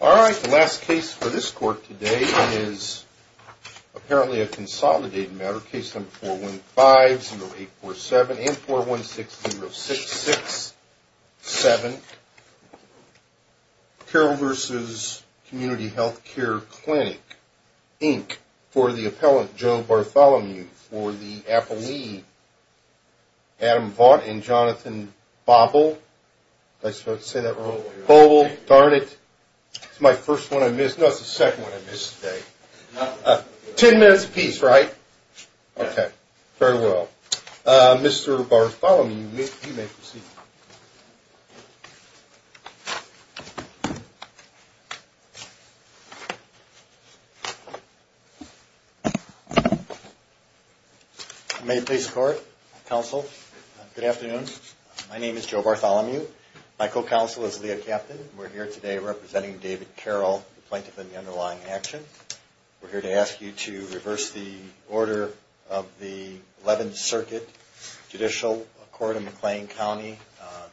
Alright, the last case for this court today is apparently a consolidated matter. Case number 415-0847 and 416-0667. Carroll v. Community Health Care Clinic, Inc. for the appellant Joe Bartholomew for the appellee Adam Vaught and Jonathan Bobble. Am I supposed to say that wrong? Bobble, Darnit. It's my first one I miss. No, it's the second one I miss today. Ten minutes apiece, right? Okay, very well. Mr. Bartholomew, you may proceed. May it please the court, counsel, good afternoon. My name is Joe Bartholomew. My co-counsel is Leah Captain. We're here today representing David Carroll, the plaintiff in the underlying action. We're here to ask you to reverse the order of the 11th Circuit Judicial Court in McLean County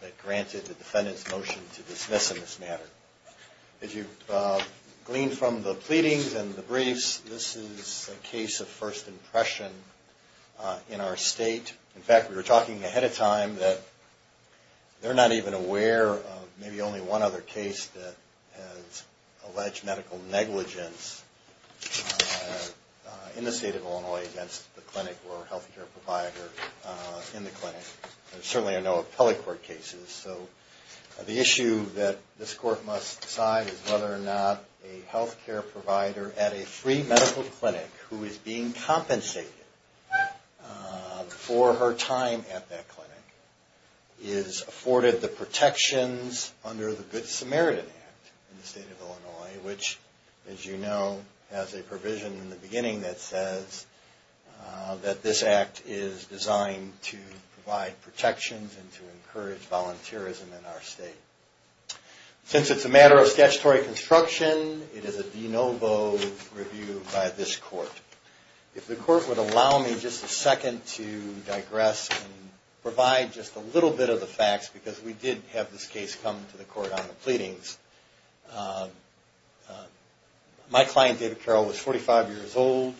that granted the defendant's motion to dismiss in this matter. As you gleaned from the pleadings and the briefs, this is a case of first impression in our state. In fact, we were talking ahead of time that they're not even aware of maybe only one other case that has alleged medical negligence in the state of Illinois against the clinic or healthcare provider in the clinic. Certainly I know of public court cases, so the issue that this court must decide is whether or not a healthcare provider at a free medical clinic who is being compensated for her time at that clinic is afforded the protections under the Good Samaritan Act in the state of Illinois, which, as you know, has a provision in the beginning that says that this act is designed to provide protections and to encourage volunteerism in our state. Since it's a matter of statutory construction, it is a de novo review by this court. If the court would allow me just a second to digress and provide just a little bit of the facts, because we did have this case come to the court on the pleadings. My client, David Carroll, was 45 years old,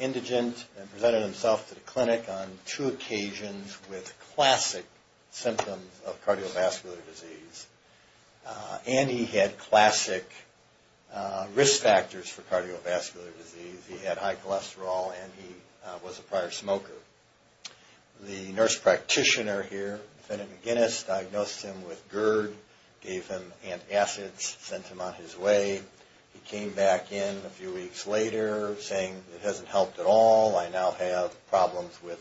indigent, and presented himself to the clinic on two occasions with classic symptoms of cardiovascular disease. And he had classic risk factors for cardiovascular disease. He had high cholesterol and he was a prior smoker. The nurse practitioner here, defendant McGinnis, diagnosed him with GERD, gave him antacids, sent him on his way. He came back in a few weeks later saying it hasn't helped at all. I now have problems with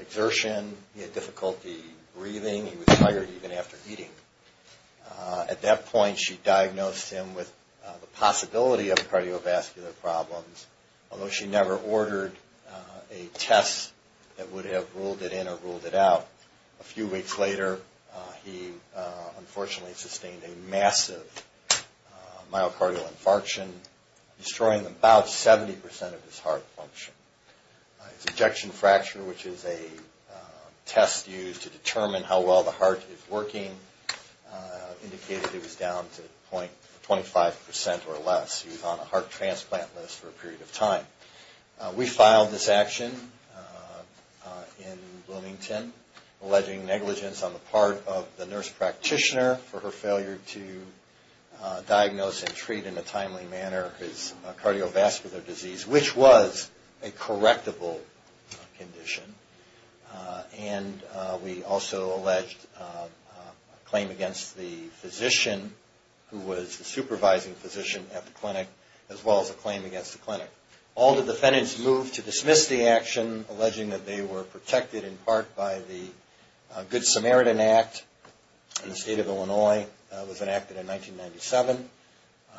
exertion. He had difficulty breathing. He was tired even after eating. At that point, she diagnosed him with the possibility of cardiovascular problems, although she never ordered a test that would have ruled it in or ruled it out. A few weeks later, he unfortunately sustained a massive myocardial infarction, destroying about 70% of his heart function. His ejection fracture, which is a test used to determine how well the heart is working, indicated it was down to 25% or less. He was on a heart transplant list for a period of time. We filed this action in Bloomington, alleging negligence on the part of the nurse practitioner for her failure to diagnose and treat in a timely manner his cardiovascular disease, which was a correctable condition. And we also alleged a claim against the physician who was the supervising physician at the clinic, as well as a claim against the clinic. The field of defendants moved to dismiss the action, alleging that they were protected in part by the Good Samaritan Act in the state of Illinois. That was enacted in 1997.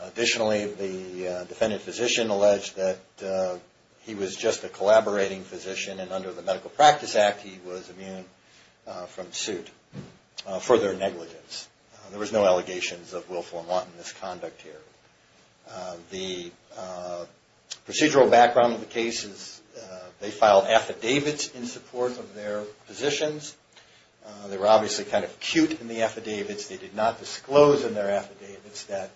Additionally, the defendant physician alleged that he was just a collaborating physician and under the Medical Practice Act, he was immune from suit for their negligence. There was no allegations of willful and wanton misconduct here. The procedural background of the case is they filed affidavits in support of their positions. They were obviously kind of cute in the affidavits. They did not disclose in their affidavits that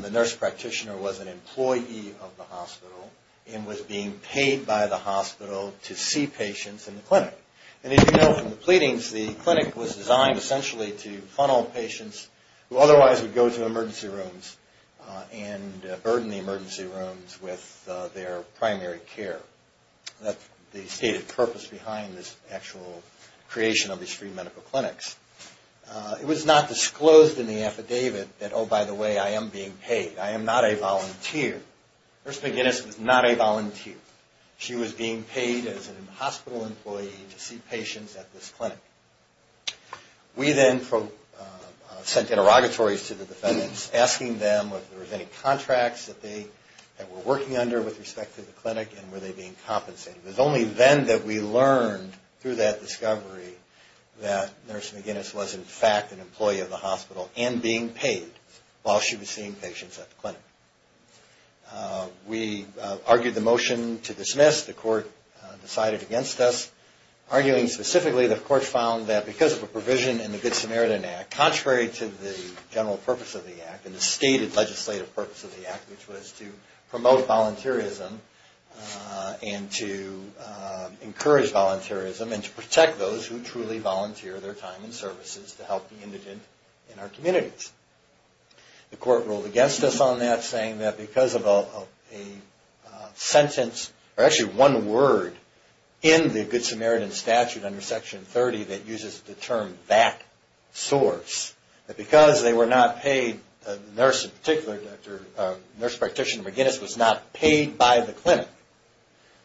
the nurse practitioner was an employee of the hospital and was being paid by the hospital to see patients in the clinic. And as you know from the pleadings, the clinic was designed essentially to funnel patients who otherwise would go to emergency rooms and burden the emergency rooms with their primary care. That's the stated purpose behind this actual creation of these free medical clinics. It was not disclosed in the affidavit that, oh, by the way, I am being paid. I am not a volunteer. Nurse McGinnis was not a volunteer. She was being paid as a hospital employee to see patients at this clinic. We then sent interrogatories to the defendants asking them if there were any contracts that they were working under with respect to the clinic and were they being compensated. It was only then that we learned through that discovery that Nurse McGinnis was in fact an employee of the hospital and being paid while she was seeing patients at the clinic. We argued the motion to dismiss. The court decided against us. Arguing specifically, the court found that because of a provision in the Good Samaritan Act, contrary to the general purpose of the Act and the stated legislative purpose of the Act, which was to promote volunteerism and to encourage volunteerism and to protect those who truly volunteer their time and services to help the indigent in our communities. The court ruled against us on that, saying that because of a sentence or actually one word in the Good Samaritan statute under Section 30 that uses the term back source, that because they were not paid, the nurse in particular, Nurse Practitioner McGinnis was not paid by the clinic,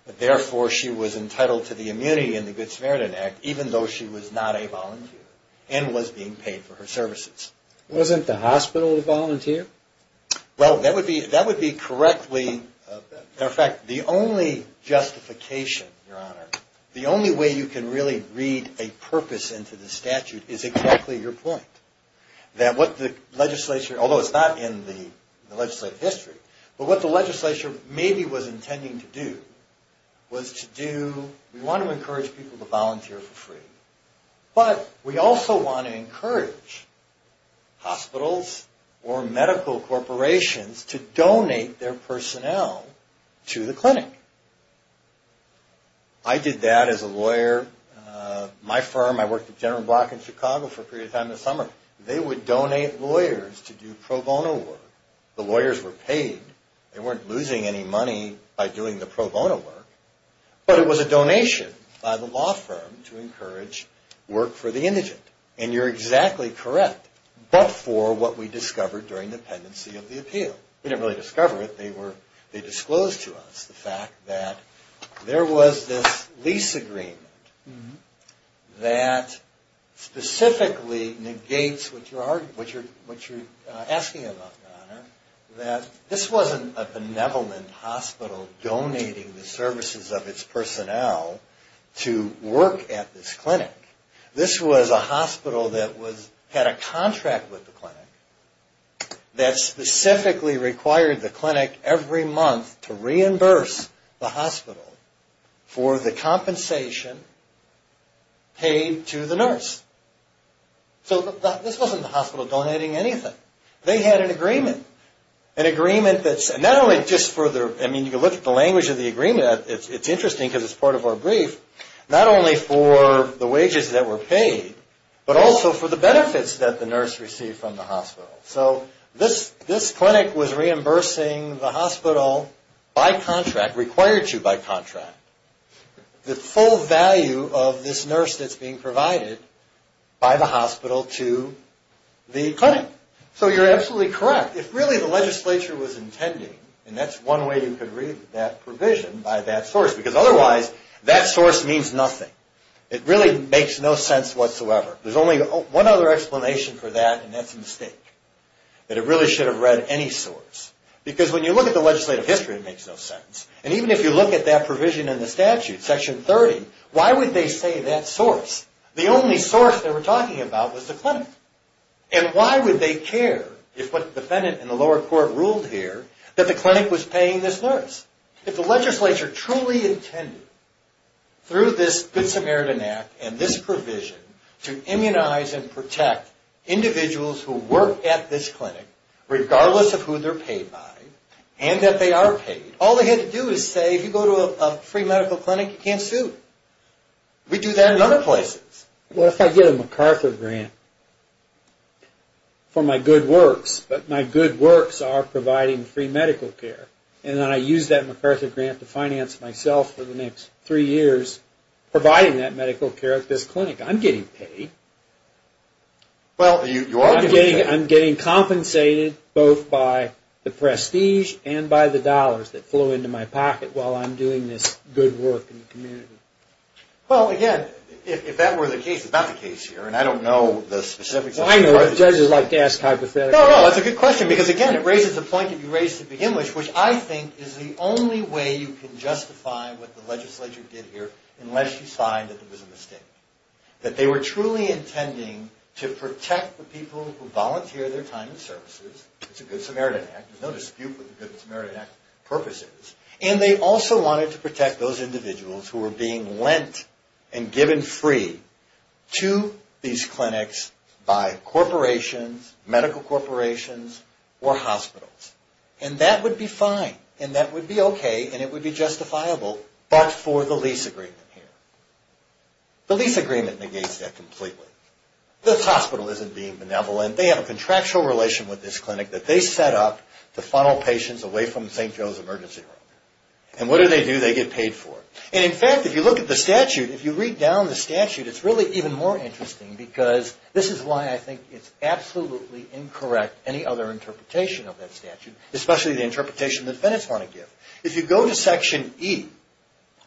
that therefore she was entitled to the immunity in the Good Samaritan Act even though she was not a volunteer and was being paid for her services. The only justification, your honor, the only way you can really read a purpose into the statute is exactly your point, that what the legislature, although it's not in the legislative history, but what the legislature maybe was intending to do was to do, we want to encourage people to volunteer for free, but we also want to encourage hospitals to volunteer for free. We want to encourage hospitals or medical corporations to donate their personnel to the clinic. I did that as a lawyer. My firm, I worked at General Block in Chicago for a period of time in the summer. They would donate lawyers to do pro bono work. The lawyers were paid. They weren't losing any money by doing the pro bono work, but it was a donation by the law firm to encourage work for the indigent. And you're exactly correct, but for what we discovered during the pendency of the appeal. We didn't really discover it. They disclosed to us the fact that there was this lease agreement that specifically negates what you're asking about, your honor, that this wasn't a benevolent hospital donating the services of its personnel to work at this clinic. This was a hospital that had a contract with the clinic that specifically required the clinic every month to reimburse the hospital for the compensation paid to the nurse. So this wasn't the hospital donating anything. They had an agreement. An agreement that's not only just for the, I mean, you can look at the language of the agreement. It's interesting because it's part of our brief. Not only for the wages that were paid, but also for the benefits that the nurse received from the hospital. So this clinic was reimbursing the hospital by contract, required to by contract, the full value of this nurse that's being provided by the hospital to the clinic. So you're absolutely correct. If really the legislature was intending, and that's one way you could read that provision by that source, because otherwise that source means nothing. It really makes no sense whatsoever. There's only one other explanation for that, and that's a mistake. That it really should have read any source. Because when you look at the legislative history, it makes no sense. And even if you look at that provision in the statute, section 30, why would they say that source? The only source they were talking about was the clinic. And why would they care if what the defendant in the lower court ruled here, that the clinic was paying this nurse? If the legislature truly intended through this Good Samaritan Act and this provision to immunize and protect individuals who work at this clinic, regardless of who they're paid by, and that they are paid, all they had to do is say, if you go to a free medical clinic, you can't sue. We do that in other places. What if I get a MacArthur grant for my good works, but my good works are providing free medical care? And then I use that MacArthur grant to finance myself for the next three years, providing that medical care at this clinic. I'm getting paid. Well, you are getting paid. I'm getting compensated both by the prestige and by the dollars that flow into my pocket while I'm doing this good work in the community. Well, again, if that were the case, it's not the case here, and I don't know the specifics. Well, I know, but judges like to ask hypotheticals. No, no, that's a good question because, again, it raises a point that you raised at the beginning, which I think is the only way you can justify what the legislature did here unless you find that there was a mistake. That they were truly intending to protect the people who volunteer their time and services. It's a Good Samaritan Act. There's no dispute with the Good Samaritan Act purposes. And they also wanted to protect those individuals who were being lent and given free to these clinics by corporations, medical corporations, or hospitals. And that would be fine, and that would be okay, and it would be justifiable, but for the lease agreement here. The lease agreement negates that completely. This hospital isn't being benevolent. They have a contractual relation with this clinic that they set up to funnel patients away from St. Joe's Emergency Room. And what do they do? They get paid for it. And, in fact, if you look at the statute, if you read down the statute, it's really even more interesting because this is why I think it's absolutely incorrect, any other interpretation of that statute, especially the interpretation that the defendants want to give. If you go to Section E,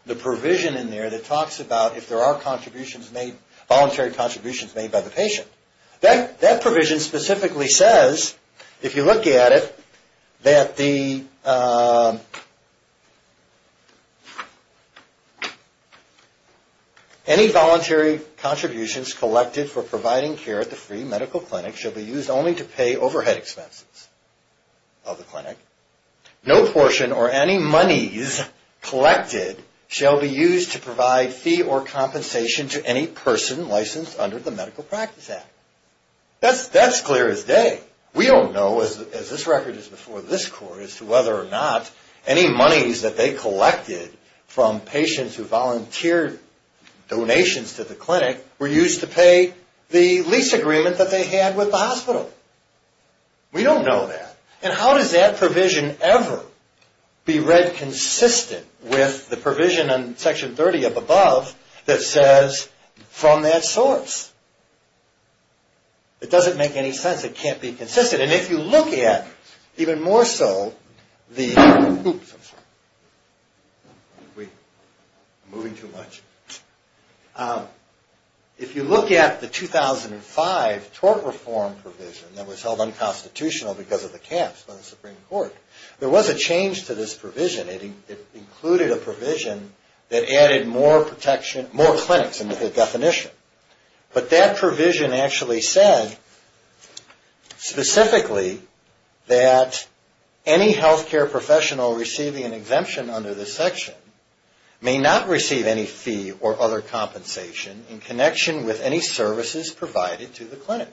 the provision in there that talks about if there are voluntary contributions made by the patient. That provision specifically says, if you look at it, that any voluntary contributions collected for providing care at the free medical clinic shall be used only to pay overhead expenses of the clinic. No portion or any monies collected shall be used to provide fee or compensation to any person licensed under the Medical Practice Act. That's clear as day. We don't know, as this record is before this court, as to whether or not any monies that they collected from patients who volunteered donations to the clinic were used to pay the lease agreement that they had with the hospital. We don't know that. And how does that provision ever be read consistent with the provision in Section 30 up above that says, from that source? It doesn't make any sense. It can't be consistent. If you look at the 2005 tort reform provision that was held unconstitutional because of the caps by the Supreme Court, there was a change to this provision. It included a provision that added more clinics into the definition. But that provision actually said, specifically, that any healthcare professional receiving an exemption under this section may not receive any fee or other compensation in connection with any services provided to the clinic.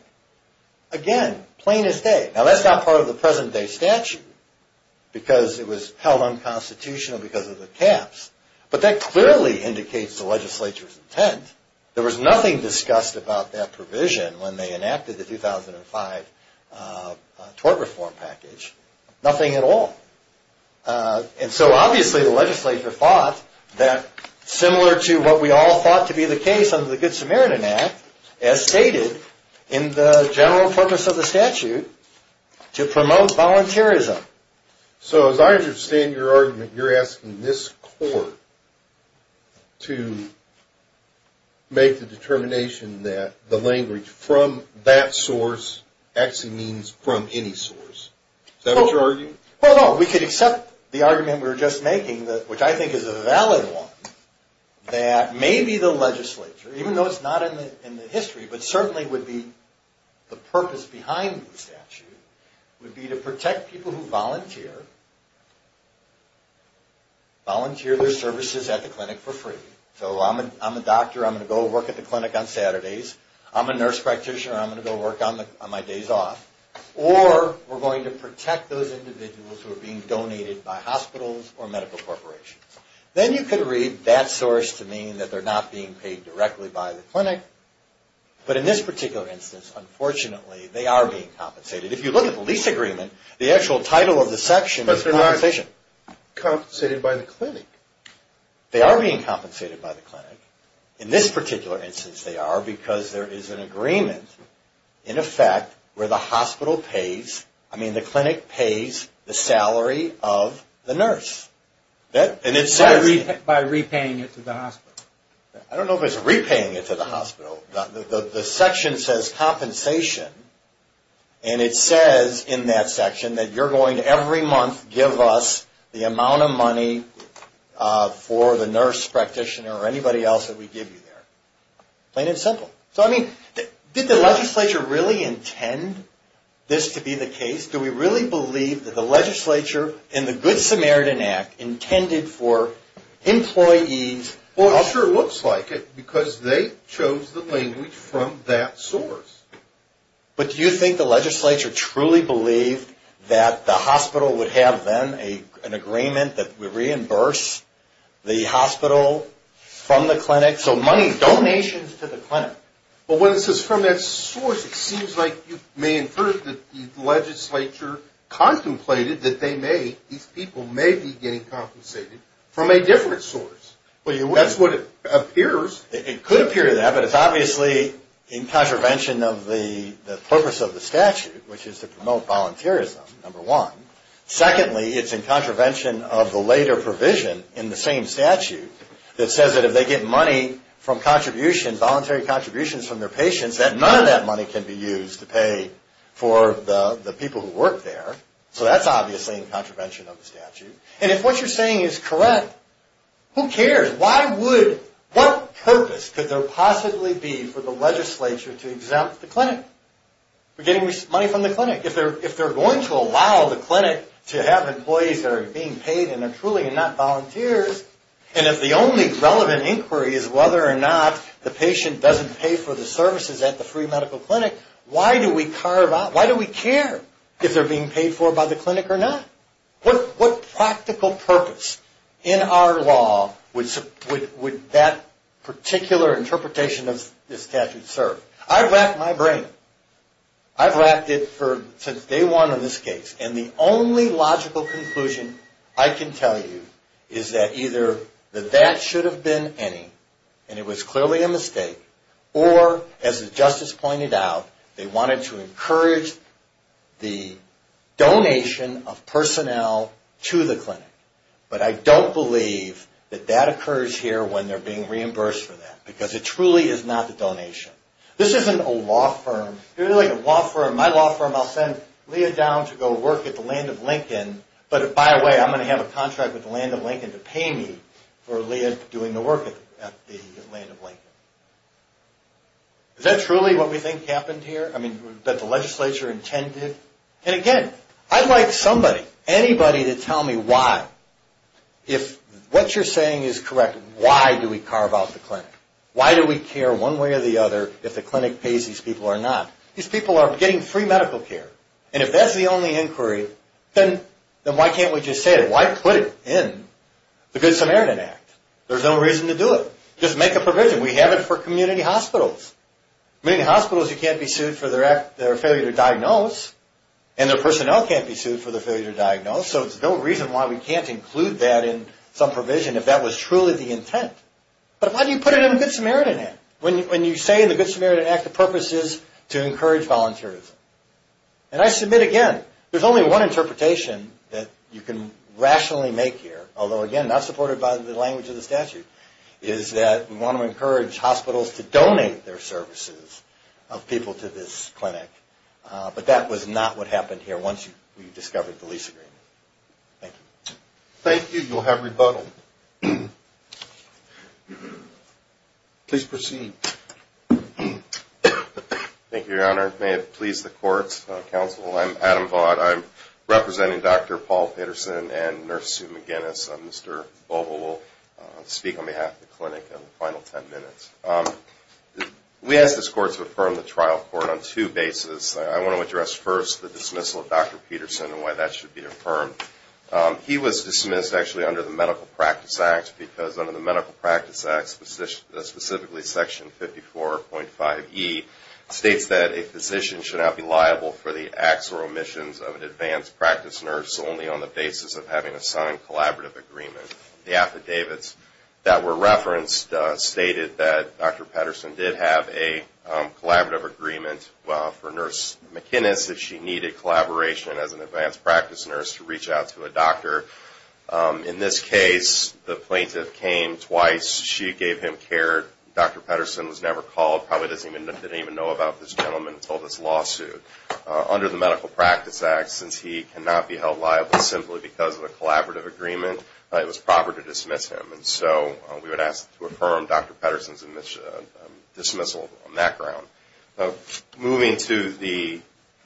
Again, plain as day. Now, that's not part of the present-day statute because it was held unconstitutional because of the caps. But that clearly indicates the legislature's intent. There was nothing discussed about that provision when they enacted the 2005 tort reform package. Nothing at all. And so, obviously, the legislature thought that, similar to what we all thought to be the case under the Good Samaritan Act, as stated in the general purpose of the statute, to promote volunteerism. So, as I understand your argument, you're asking this court to make the determination that the language, from that source, actually means from any source. Is that what you're arguing? Well, no. We could accept the argument we were just making, which I think is a valid one, that maybe the legislature, even though it's not in the history, but certainly would be the purpose behind the statute, would be to protect people who volunteer, volunteer their services at the clinic for free. So, I'm a doctor. I'm going to go work at the clinic on Saturdays. I'm a nurse practitioner. I'm going to go work on my days off. Or, we're going to protect those individuals who are being donated by hospitals or medical corporations. Then you could read that source to mean that they're not being paid directly by the clinic. But in this particular instance, unfortunately, they are being compensated. If you look at the lease agreement, the actual title of the section is compensation. But they're not compensated by the clinic. They are being compensated by the clinic. In this particular instance, they are, because there is an agreement, in effect, where the hospital pays, I mean, the clinic pays the salary of the nurse. By repaying it to the hospital. I don't know if it's repaying it to the hospital. The section says compensation. And it says in that section that you're going to, every month, give us the amount of money for the nurse practitioner or anybody else that we give you there. Plain and simple. So, I mean, did the legislature really intend this to be the case? Do we really believe that the legislature, in the Good Samaritan Act, intended for employees... Well, it sure looks like it, because they chose the language from that source. But do you think the legislature truly believed that the hospital would have, then, an agreement that we reimburse the hospital from the clinic, so money, donations to the clinic? Well, when it says from that source, it seems like you may infer that the legislature contemplated that they may, these people may be getting compensated from a different source. That's what it appears. It could appear to that, but it's obviously in contravention of the purpose of the statute, which is to promote volunteerism, number one. Secondly, it's in contravention of the later provision in the same statute that says that if they get money from contributions, voluntary contributions from their patients, that none of that money can be used to pay for the people who work there. So that's obviously in contravention of the statute. And if what you're saying is correct, who cares? Why would, what purpose could there possibly be for the legislature to exempt the clinic from getting money from the clinic? If they're going to allow the clinic to have employees that are being paid and are truly not volunteers, and if the only relevant inquiry is whether or not the patient doesn't pay for the services at the free medical clinic, why do we carve out, why do we care if they're being paid for by the clinic or not? What practical purpose in our law would that particular interpretation of the statute serve? I've racked my brain. I've racked it since day one in this case, and the only logical conclusion I can tell you is that either that that should have been any, and it was clearly a mistake, or, as the justice pointed out, they wanted to encourage the donation of personnel to the clinic. But I don't believe that that occurs here when they're being reimbursed for that, because it truly is not the donation. This isn't a law firm. If you're like a law firm, my law firm, I'll send Leah down to go work at the Land of Lincoln, but by the way, I'm going to have a contract with the Land of Lincoln to pay me for Leah doing the work at the Land of Lincoln. Is that truly what we think happened here? I mean, that the legislature intended? And again, I'd like somebody, anybody to tell me why, if what you're saying is correct, why do we carve out the clinic? Why do we care one way or the other if the clinic pays these people or not? These people are getting free medical care, and if that's the only inquiry, then why can't we just say it? Why put it in the Good Samaritan Act? There's no reason to do it. Just make a provision. We have it for community hospitals. Community hospitals, you can't be sued for their failure to diagnose, and their personnel can't be sued for their failure to diagnose, so there's no reason why we can't include that in some provision if that was truly the intent. But why do you put it in the Good Samaritan Act when you say in the Good Samaritan Act the purpose is to encourage volunteerism? And I submit again, there's only one interpretation that you can rationally make here, although again, not supported by the language of the statute, is that we want to encourage hospitals to donate their services of people to this clinic, but that was not what happened here once we discovered the lease agreement. Thank you. Thank you. You'll have rebuttal. Please proceed. Thank you, Your Honor. May it please the courts, counsel, I'm Adam Vaught. I'm representing Dr. Paul Pedersen and Nurse Sue McGinnis. Mr. Bobo will speak on behalf of the clinic in the final ten minutes. We ask this court to affirm the trial court on two bases. I want to address first the dismissal of Dr. Pedersen and why that should be affirmed. He was dismissed actually under the Medical Practice Act because under the Medical Practice Act, specifically Section 54.5E, states that a physician should not be liable for the acts or omissions of an advanced practice nurse only on the basis of having a signed collaborative agreement. The affidavits that were referenced stated that Dr. Pedersen did have a collaborative agreement for Nurse McGinnis if she needed collaboration as an advanced practice nurse to reach out to a doctor. In this case, the plaintiff came twice. She gave him care. Dr. Pedersen was never called, probably didn't even know about this gentleman until this lawsuit. Under the Medical Practice Act, since he cannot be held liable simply because of a collaborative agreement, it was proper to dismiss him. And so we would ask to affirm Dr. Pedersen's dismissal on that ground. Moving to the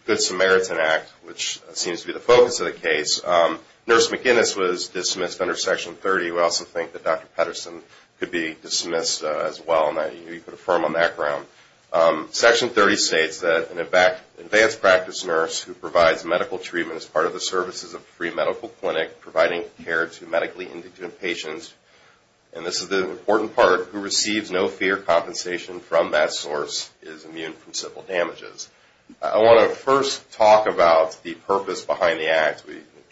Good Samaritan Act, which seems to be the focus of the case, Nurse McGinnis was dismissed under Section 30. We also think that Dr. Pedersen could be dismissed as well and that he could affirm on that ground. Section 30 states that an advanced practice nurse who provides medical treatment as part of the services of a free medical clinic, providing care to medically indigent patients, and this is the important part, who receives no fear compensation from that source, is immune from civil damages. I want to first talk about the purpose behind the Act.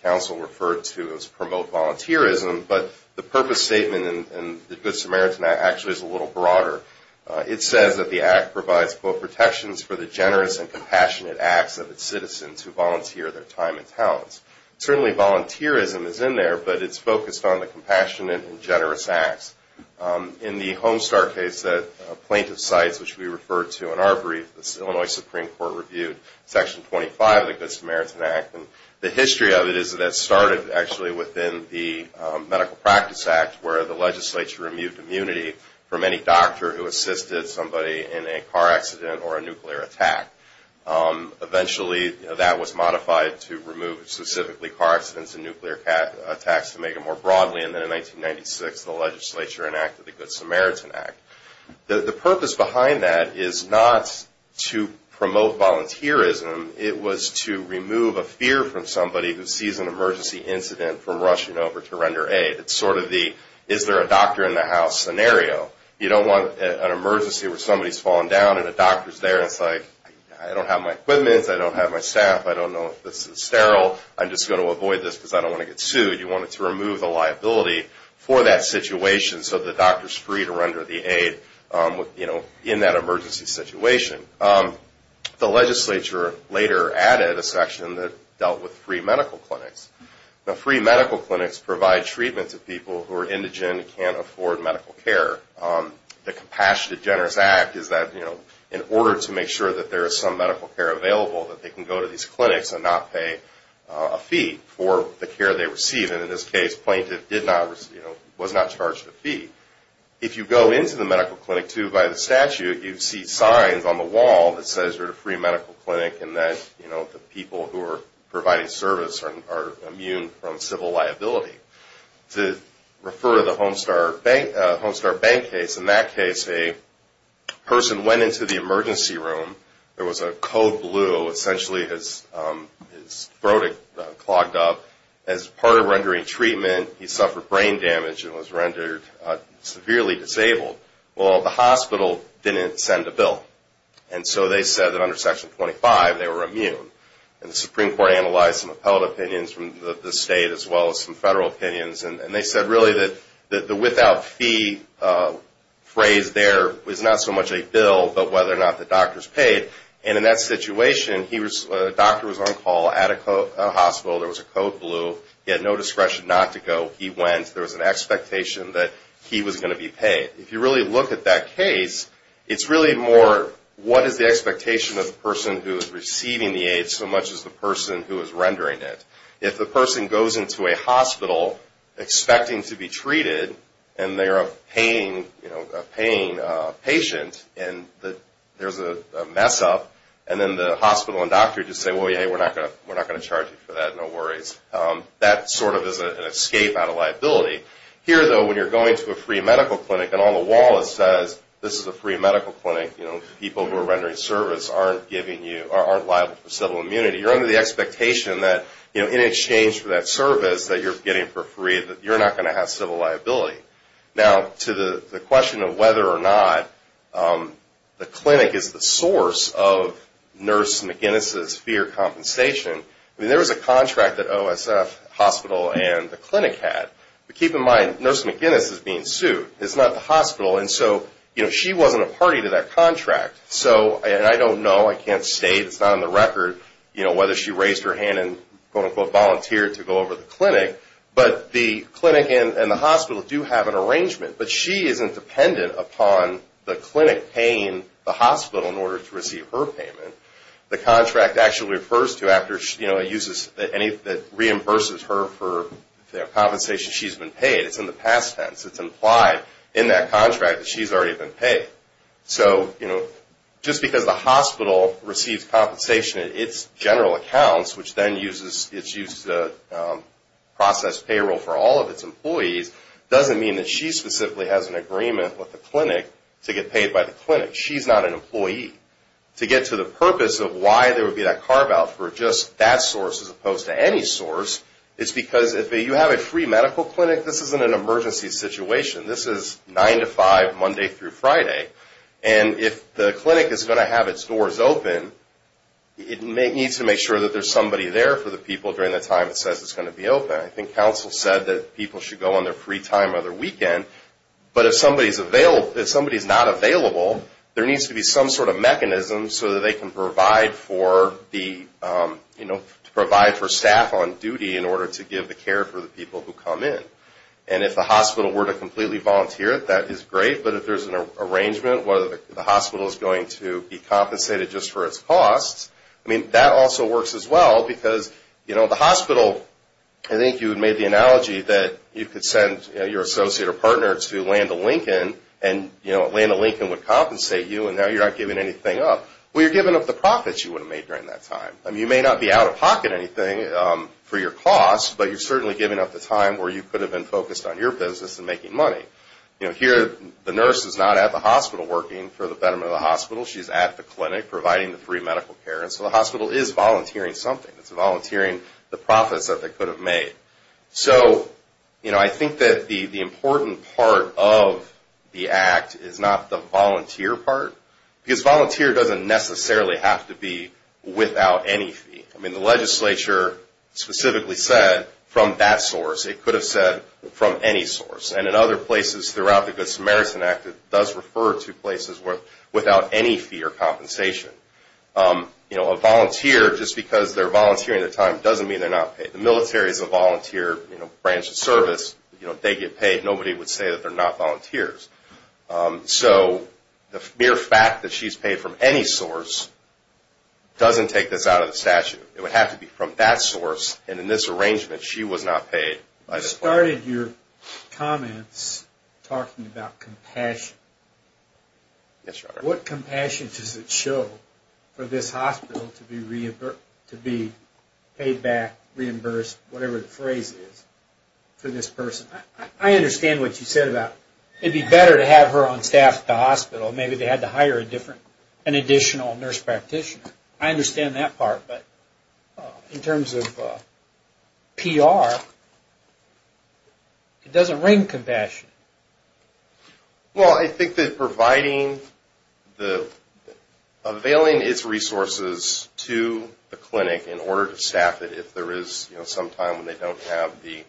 Council referred to it as promote volunteerism, but the purpose statement in the Good Samaritan Act actually is a little broader. It says that the Act provides both protections for the generous and compassionate acts of its citizens who volunteer their time and talents. Certainly volunteerism is in there, but it's focused on the compassionate and generous acts. In the Homestar case, plaintiff's sites, which we referred to in our brief, the Illinois Supreme Court reviewed Section 25 of the Good Samaritan Act. The history of it is that it started actually within the Medical Practice Act, where the legislature removed immunity from any doctor who assisted somebody in a car accident or a nuclear attack. Eventually that was modified to remove specifically car accidents and nuclear attacks to make it more broadly, and then in 1996 the legislature enacted the Good Samaritan Act. The purpose behind that is not to promote volunteerism. It was to remove a fear from somebody who sees an emergency incident from rushing over to render aid. It's sort of the, is there a doctor in the house scenario. You don't want an emergency where somebody's falling down and a doctor's there and it's like, I don't have my equipment, I don't have my staff, I don't know if this is sterile, I'm just going to avoid this because I don't want to get sued. You want to remove the liability for that situation so the doctor's free to render the aid in that emergency situation. The legislature later added a section that dealt with free medical clinics. Now free medical clinics provide treatment to people who are indigent and can't afford medical care. The Compassionate Generous Act is that in order to make sure that there is some medical care available, that they can go to these clinics and not pay a fee for the care they receive, and in this case the plaintiff was not charged a fee. If you go into the medical clinic too by the statute, you see signs on the wall that says you're at a free medical clinic and that the people who are providing service are immune from civil liability. To refer to the Homestar Bank case, in that case a person went into the emergency room, there was a code blue, essentially his throat had clogged up, as part of rendering treatment he suffered brain damage and was rendered severely disabled. Well the hospital didn't send a bill and so they said that under section 25 they were immune. The Supreme Court analyzed some appealed opinions from the state as well as some federal opinions and they said really that the without fee phrase there was not so much a bill, but whether or not the doctors paid, and in that situation a doctor was on call at a hospital, there was a code blue, he had no discretion not to go, he went, there was an expectation that he was going to be paid. If you really look at that case, it's really more what is the expectation of the person who is receiving the aid so much as the person who is rendering it. If the person goes into a hospital expecting to be treated and they're a paying patient and there's a mess up and then the hospital and doctor just say, hey we're not going to charge you for that, no worries. That sort of is an escape out of liability. Here though when you're going to a free medical clinic and on the wall it says this is a free medical clinic, people who are rendering service aren't liable for civil immunity. You're under the expectation that in exchange for that service that you're getting for free that you're not going to have civil liability. Now to the question of whether or not the clinic is the source of Nurse McGinnis' fear compensation, there was a contract that OSF Hospital and the clinic had. Keep in mind Nurse McGinnis is being sued, it's not the hospital. She wasn't a party to that contract. I don't know, I can't state, it's not on the record whether she raised her hand and quote unquote volunteered to go over to the clinic, but the clinic and the hospital do have an arrangement. But she isn't dependent upon the clinic paying the hospital in order to receive her payment. The contract actually refers to after, you know, that reimburses her for the compensation she's been paid. It's in the past tense. It's implied in that contract that she's already been paid. So, you know, just because the hospital receives compensation in its general accounts, which then uses, it's used to process payroll for all of its employees, doesn't mean that she specifically has an agreement with the clinic to get paid by the clinic. She's not an employee. To get to the purpose of why there would be that carve out for just that source as opposed to any source, it's because if you have a free medical clinic, this isn't an emergency situation. This is 9 to 5 Monday through Friday. And if the clinic is going to have its doors open, it needs to make sure that there's somebody there for the people during the time it says it's going to be open. I think counsel said that people should go on their free time or their weekend. But if somebody's available, if somebody's not available, there needs to be some sort of mechanism so that they can provide for the, you know, to provide for staff on duty in order to give the care for the people who come in. And if the hospital were to completely volunteer, that is great. But if there's an arrangement, whether the hospital is going to be compensated just for its costs, I mean, that also works as well because, you know, the hospital, I think you had made the analogy that you could send your associate or partner to Land O'Lincoln and, you know, Land O'Lincoln would compensate you and now you're not giving anything up. Well, you're giving up the profits you would have made during that time. I mean, you may not be out of pocket anything for your costs, but you're certainly giving up the time where you could have been focused on your business and making money. You know, here the nurse is not at the hospital working for the betterment of the hospital. She's at the clinic providing the free medical care. And so the hospital is volunteering something. It's volunteering the profits that they could have made. So, you know, I think that the important part of the Act is not the volunteer part because volunteer doesn't necessarily have to be without any fee. I mean, the legislature specifically said from that source. It could have said from any source. And in other places throughout the Good Samaritan Act, it does refer to places without any fee or compensation. You know, a volunteer, just because they're volunteering their time, doesn't mean they're not paid. The military is a volunteer, you know, branch of service. You know, if they get paid, nobody would say that they're not volunteers. So the mere fact that she's paid from any source doesn't take this out of the statute. It would have to be from that source. And in this arrangement, she was not paid. I started your comments talking about compassion. Yes, sir. What compassion does it show for this hospital to be paid back, reimbursed, whatever the phrase is, for this person? I understand what you said about it'd be better to have her on staff at the hospital. Maybe they had to hire an additional nurse practitioner. I understand that part. But in terms of PR, it doesn't ring compassion. Well, I think that providing the, availing its resources to the clinic in order to staff it, if there is some time when they don't have the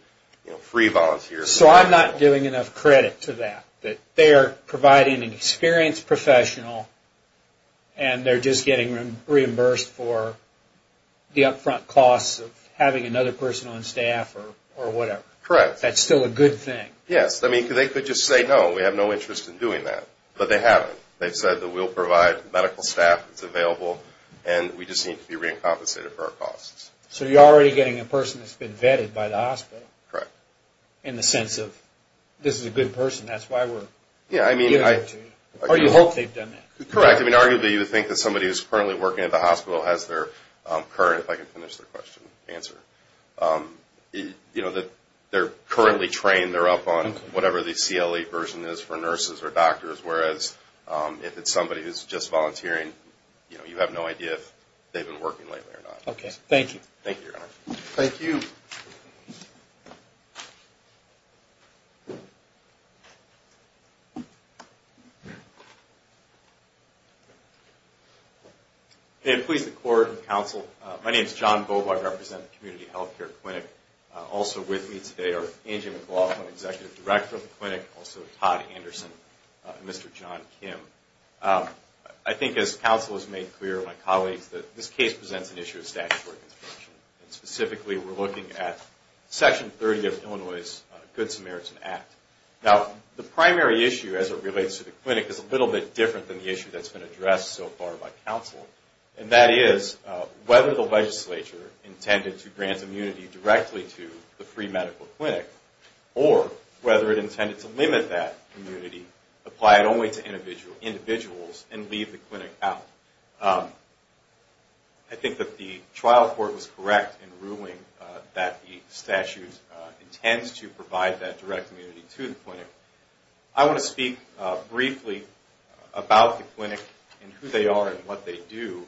free volunteers. So I'm not giving enough credit to that, that they're providing an experienced professional, and they're just getting reimbursed for the upfront costs of having another person on staff or whatever. Correct. That's still a good thing. Yes, I mean, they could just say, no, we have no interest in doing that. But they haven't. They've said that we'll provide medical staff that's available, and we just need to be re-compensated for our costs. So you're already getting a person that's been vetted by the hospital. Correct. In the sense of, this is a good person, that's why we're giving it to you. Or you hope they've done that. Correct. I mean, arguably, you would think that somebody who's currently working at the hospital has their current, if I can finish the question, answer. You know, that they're currently trained, they're up on whatever the CLE version is for nurses or doctors. Whereas, if it's somebody who's just volunteering, you have no idea if they've been working lately or not. Okay, thank you. Thank you, Your Honor. Thank you. May it please the Court and Counsel, my name is John Bova. I represent the Community Health Care Clinic. Also with me today are Angie McLaughlin, Executive Director of the clinic, also Todd Anderson, and Mr. John Kim. I think, as Counsel has made clear, my colleagues, that this case presents an issue of statutory construction. Specifically, we're looking at Section 30 of Illinois' Good Samaritan Act. Now, the primary issue, as it relates to the clinic, is a little bit different than the issue that's been addressed so far by Counsel. And that is, whether the legislature intended to grant immunity directly to the free medical clinic, or whether it intended to limit that immunity, apply it only to individuals, and leave the clinic out. I think that the trial court was correct in ruling that the statute intends to provide that direct immunity to the clinic. I want to speak briefly about the clinic, and who they are, and what they do,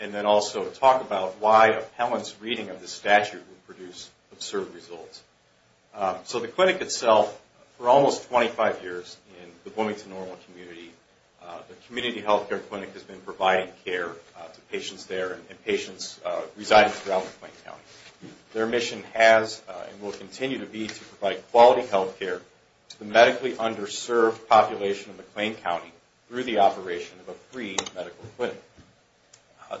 and then also talk about why Appellant's reading of the statute would produce absurd results. So the clinic itself, for almost 25 years, in the Bloomington Normal community, the Community Health Care Clinic has been providing care to patients there, and patients residing throughout McLean County. Their mission has, and will continue to be, to provide quality health care to the medically underserved population of McLean County, through the operation of a free medical clinic.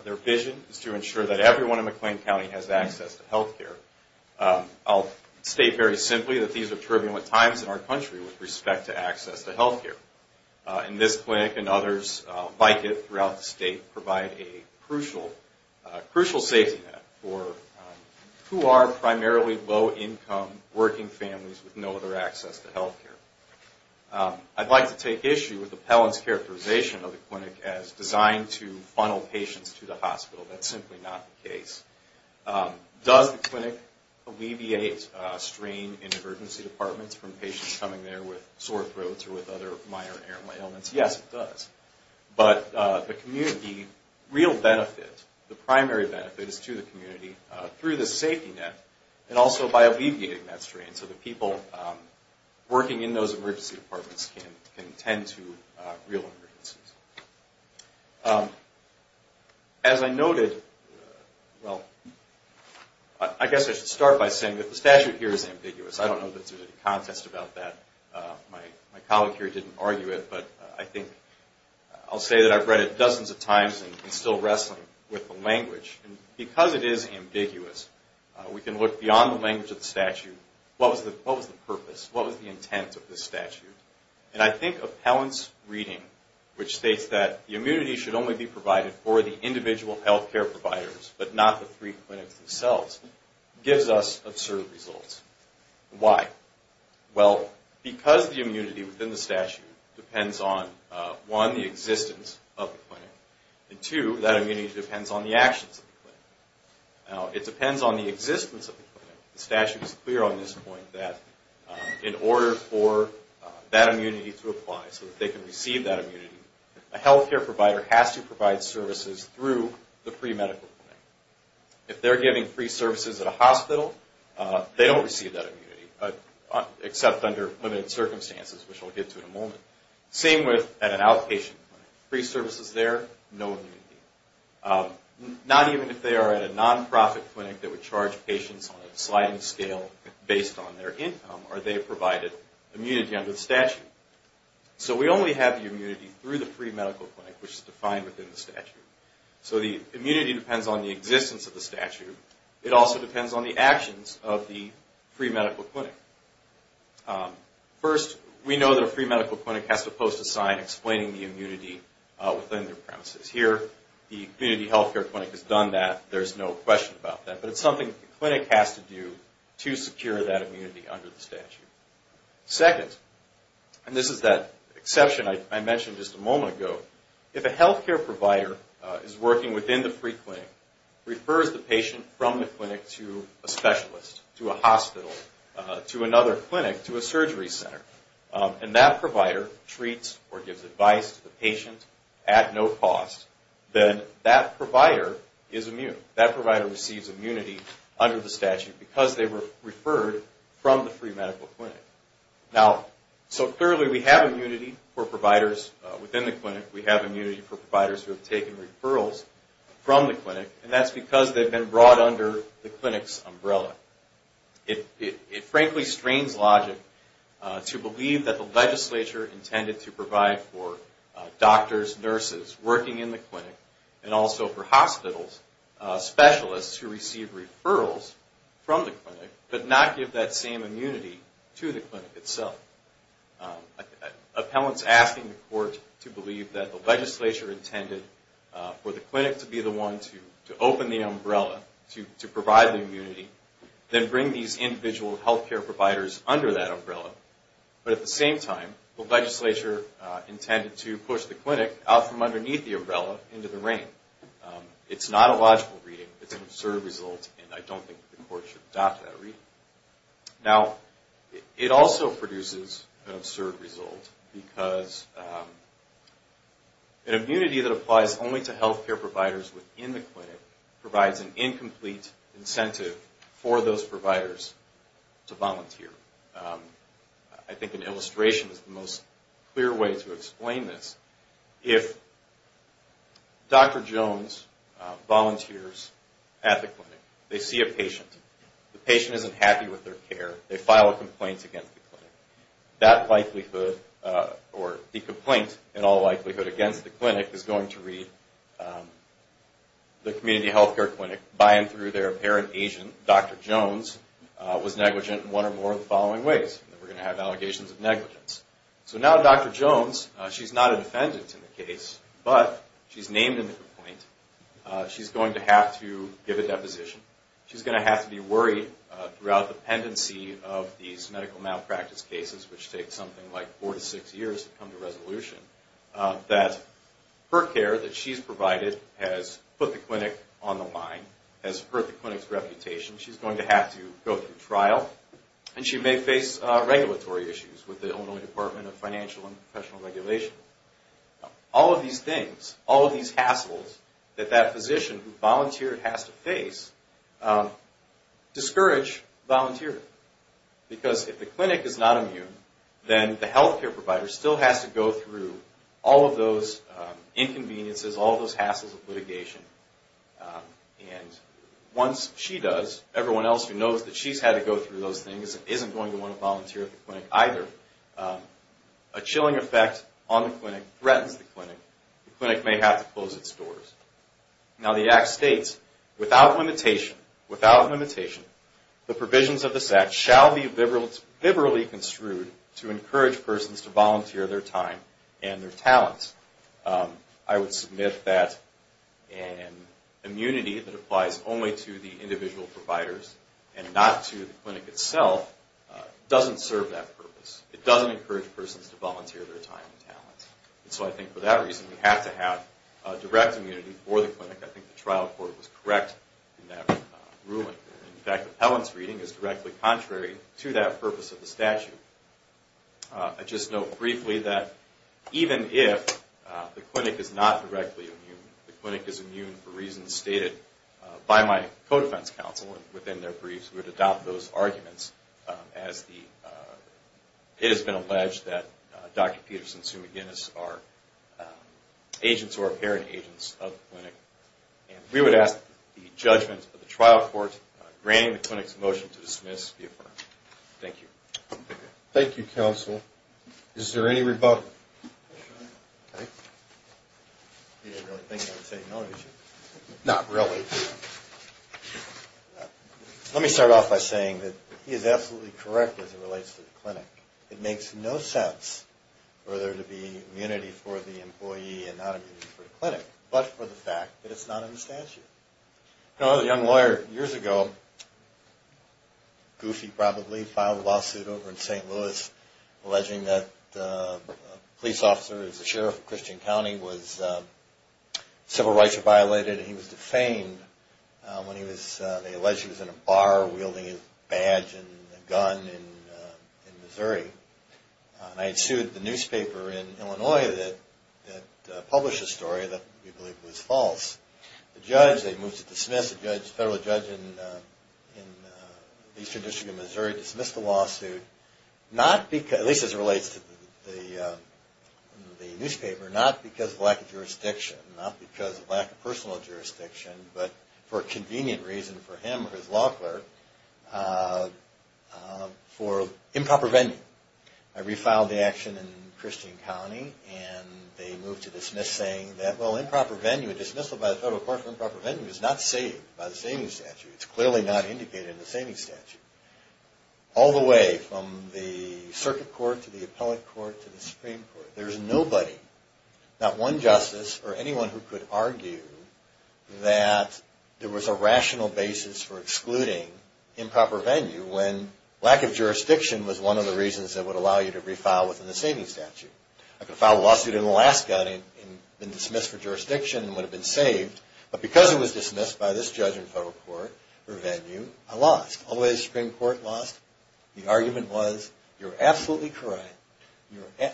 Their vision is to ensure that everyone in McLean County has access to health care. I'll state very simply that these are turbulent times in our country with respect to access to health care. And this clinic, and others like it throughout the state, provide a crucial safety net for who are primarily low-income, working families who need access to health care. I'd like to take issue with Appellant's characterization of the clinic as designed to funnel patients to the hospital. That's simply not the case. Does the clinic alleviate strain in emergency departments from patients coming there with sore throats or with other minor ailments? Yes, it does. But the real benefit, the primary benefit, is to the community in those emergency departments can tend to real emergencies. As I noted, well, I guess I should start by saying that the statute here is ambiguous. I don't know that there's any contest about that. My colleague here didn't argue it, but I think, I'll say that I've read it dozens of times and still wrestling with the language. Because it is ambiguous, we can look beyond the language of the statute. What was the purpose? And I think Appellant's reading, which states that the immunity should only be provided for the individual health care providers, but not the three clinics themselves, gives us absurd results. Why? Well, because the immunity within the statute depends on, one, the existence of the clinic, and two, that immunity depends on the actions of the clinic. Now, it depends on the existence of the clinic. The statute is clear on this point that in order for that immunity to apply, so that they can receive that immunity, a health care provider has to provide services through the pre-medical clinic. If they're giving free services at a hospital, they don't receive that immunity, except under limited circumstances, which I'll get to in a moment. Same with at an outpatient clinic. Free services there, no immunity. Not even if they are at a non-profit clinic that would charge patients on a sliding scale based on their income, or they provided immunity under the statute. So we only have the immunity through the pre-medical clinic, which is defined within the statute. So the immunity depends on the existence of the statute. It also depends on the actions of the pre-medical clinic. First, we know that a pre-medical clinic has to post a sign explaining the immunity within their premises. Here, the community health care clinic has done that. There's no question about that. But it's something the clinic has to do to secure that immunity under the statute. Second, and this is that exception I mentioned just a moment ago, if a health care provider is working within the free clinic, refers the patient from the clinic to a specialist, to a hospital, to another clinic, to a surgery center, and that provider treats or gives advice to the patient at no cost, then that provider is immune. That provider receives immunity under the statute because they were referred from the free medical clinic. Now, so clearly we have immunity for providers within the clinic. We have immunity for providers who have taken referrals from the clinic, and that's because they've been brought under the clinic's umbrella. It frankly strains logic to believe that the legislature intended to provide for doctors, nurses, working in the clinic, specialists who receive referrals from the clinic, but not give that same immunity to the clinic itself. Appellants asking the court to believe that the legislature intended for the clinic to be the one to open the umbrella to provide the immunity, then bring these individual health care providers under that umbrella, but at the same time, the legislature intended to push the clinic out from underneath the umbrella and say it's an absurd result and I don't think the court should adopt that reading. Now, it also produces an absurd result because an immunity that applies only to health care providers within the clinic provides an incomplete incentive for those providers to volunteer. I think an illustration is the most clear way to explain this. If Dr. Jones volunteers at the clinic, they see a patient, the patient isn't happy with their care, they file a complaint against the clinic, that likelihood, or the complaint in all likelihood against the clinic is going to read the community health care clinic by and through their apparent agent, Dr. Jones, was negligent in one way or another to give a deposition. She's going to have to be worried throughout the pendency of these medical malpractice cases which take something like four to six years to come to resolution that her care that she's provided has put the clinic on the line, has hurt the clinic's reputation, she's going to have to go through trial, and she may face regulatory issues with the Illinois Department of Financial and Professional Regulation. All of these things, all of these hassles that that physician who volunteered has to face discourage volunteering. Because if the clinic is not immune, then the health care provider still has to go through all of those inconveniences, all of those hassles of litigation. And once she does, everyone else who knows that she's had to go through those things isn't going to want to volunteer at the clinic either. A chilling effect on the clinic threatens the clinic. The clinic may have to close its doors. Now the Act states, without limitation, without limitation, the provisions of this Act shall be liberally construed to encourage persons to volunteer their time and their talents. I would submit that an immunity that applies only to the individual providers and not to the clinic itself doesn't serve that purpose. It doesn't encourage persons to volunteer their time and talents. And so I think for that reason we have to have direct immunity for the clinic. I think the trial court was correct in that ruling. In fact, Appellant's reading is directly contrary to that purpose of the statute. I just note briefly that even if the clinic is not directly immune, the clinic is immune for reasons stated by my co-defense counsel within their briefs. We would adopt those arguments as it has been alleged that Dr. Peterson and Sue McGinnis are agents or apparent agents of the clinic. And we would ask the judgment of the trial court granting the clinic's motion to dismiss the affirmative. Thank you. Thank you, counsel. Is there any rebuttal? Not really. Let me start off by saying that he is absolutely correct as it relates to the clinic. It makes no sense for there to be immunity for the employee and not immunity for the clinic, but for the fact that it's not in a young lawyer years ago, goofy probably, filed a lawsuit over in St. Louis alleging that a patient who had been in the clinic for a long time had been a police officer who was the sheriff of Christian County was, civil rights were violated and he was defamed when he was, they alleged he was in a bar wielding his badge and gun in Missouri. And I had sued the newspaper in Illinois that published a story that we believe was false. The judge, they moved to dismiss, the federal judge in the Eastern District of Missouri dismissed the newspaper, not because of lack of jurisdiction, not because of lack of personal jurisdiction, but for a convenient reason for him or his law clerk, for improper venue. I refiled the action in Christian County and they moved to dismiss saying that well improper venue, dismissal by the federal court for improper venue is not saved by the saving statute. It's clearly not indicated in the Supreme Court. There's nobody, not one justice or anyone who could argue that there was a rational basis for excluding improper venue when lack of jurisdiction was one of the reasons that would allow you to refile within the saving statute. I could file a lawsuit in Alaska and been dismissed for jurisdiction and would have been saved, but because it was dismissed by this judge and federal court for venue, I lost. Although the Supreme Court lost, the argument was you're absolutely correct.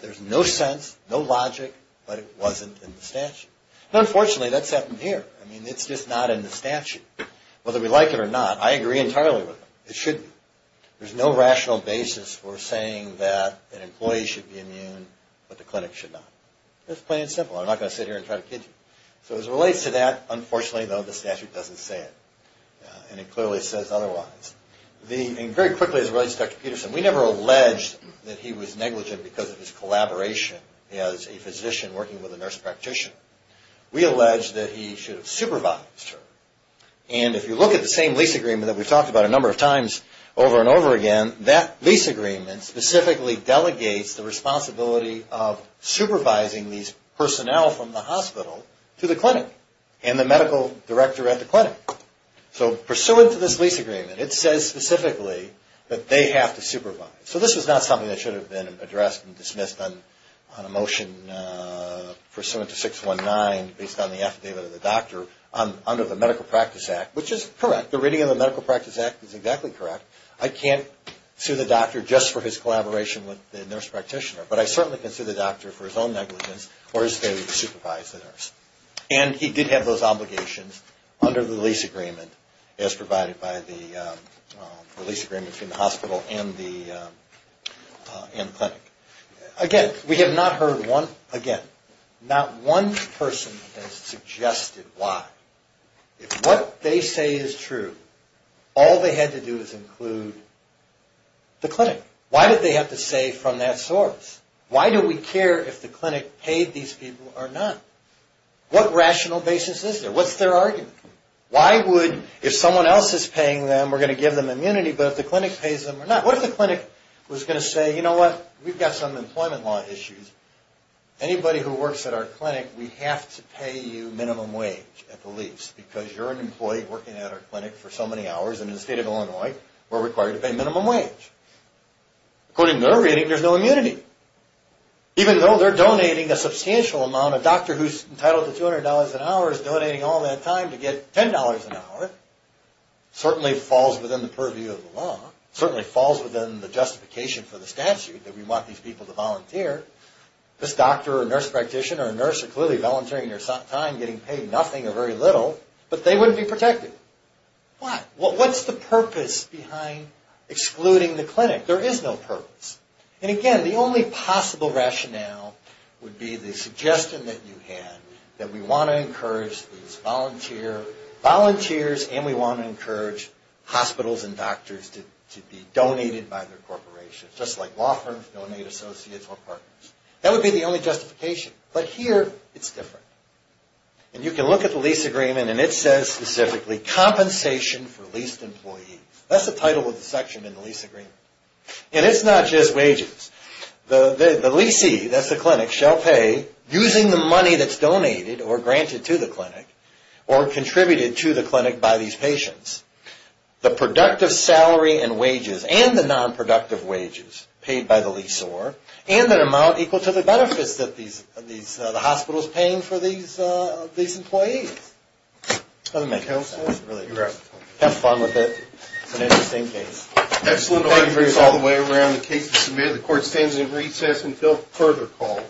There's no sense, no logic, but it wasn't in the statute. Unfortunately, that's happened here. I mean, it's just not in the statute. Whether we like it or not, I agree entirely with them. It should be. There's no rational basis for saying that an employee should be immune, but the clinic should not. It's plain and simple. I'm not going to sit here and try to kid you. So as it relates to that, unfortunately, though, the statute doesn't say it, and it clearly says otherwise. And very quickly, as it goes over and over again, that lease agreement specifically delegates the responsibility of supervising these personnel from the hospital to the clinic and the medical director at the clinic. So pursuant to this lease agreement, it says specifically that they have to supervise. So this is not something that should have been addressed and dismissed on a motion pursuant to 619 based on the affidavit of the doctor under the Medical Practice Act, which is correct. The reading of the Medical Practice Act is exactly correct. I can't sue the doctor just for his collaboration with the nurse practitioner, but I certainly can sue the doctor for his own negligence or his being negligent in supervising the nurse. And he did have those obligations under the lease agreement as provided by the lease agreement between the hospital and the clinic. Again, we have not heard one again. Not one person has suggested why. If what they say is true, all they had to do is include the clinic. Why did they have to say from that source? Why do we care if the clinic paid these people or not? What rational basis is there? What's their argument? Why would, if someone else is paying them, we're going to give them immunity, but if the clinic pays them or not? What if the clinic was in a location paying so much money for so many hours in Illinois and was required to pay minimum wage? There's no immunity. Even though they're donating a substantial amount, a doctor who is entitled to $200 an hour, is donating all that time to get $10 an hour, it certainly falls within the purview law. But they wouldn't be protected. Why? What's the purpose behind excluding the clinic? There is no purpose. And again, the only possible rationale would be the suggestion that you had, that we want to encourage these volunteers, and we want to encourage hospitals and doctors to be donated by their corporations. Just like law firms donate associates or partners. That would be the only justification. But here, it's different. And you can look at the lease agreement and it says specifically compensation for leased employees. That's the title of the section in the lease agreement. And it's not just wages. The leasee, that's the clinic, shall pay using the money that's donated or granted to the clinic or contributed to the clinic by these patients the productive salary and wages and the nonproductive wages paid by the leasor and the amount equal to the benefits that the hospital is paying for these employees. That would make sense. Have fun with it. It's an interesting case. Excellent. Thank you for all the way around. The case is submitted. The court stands in recess until further call.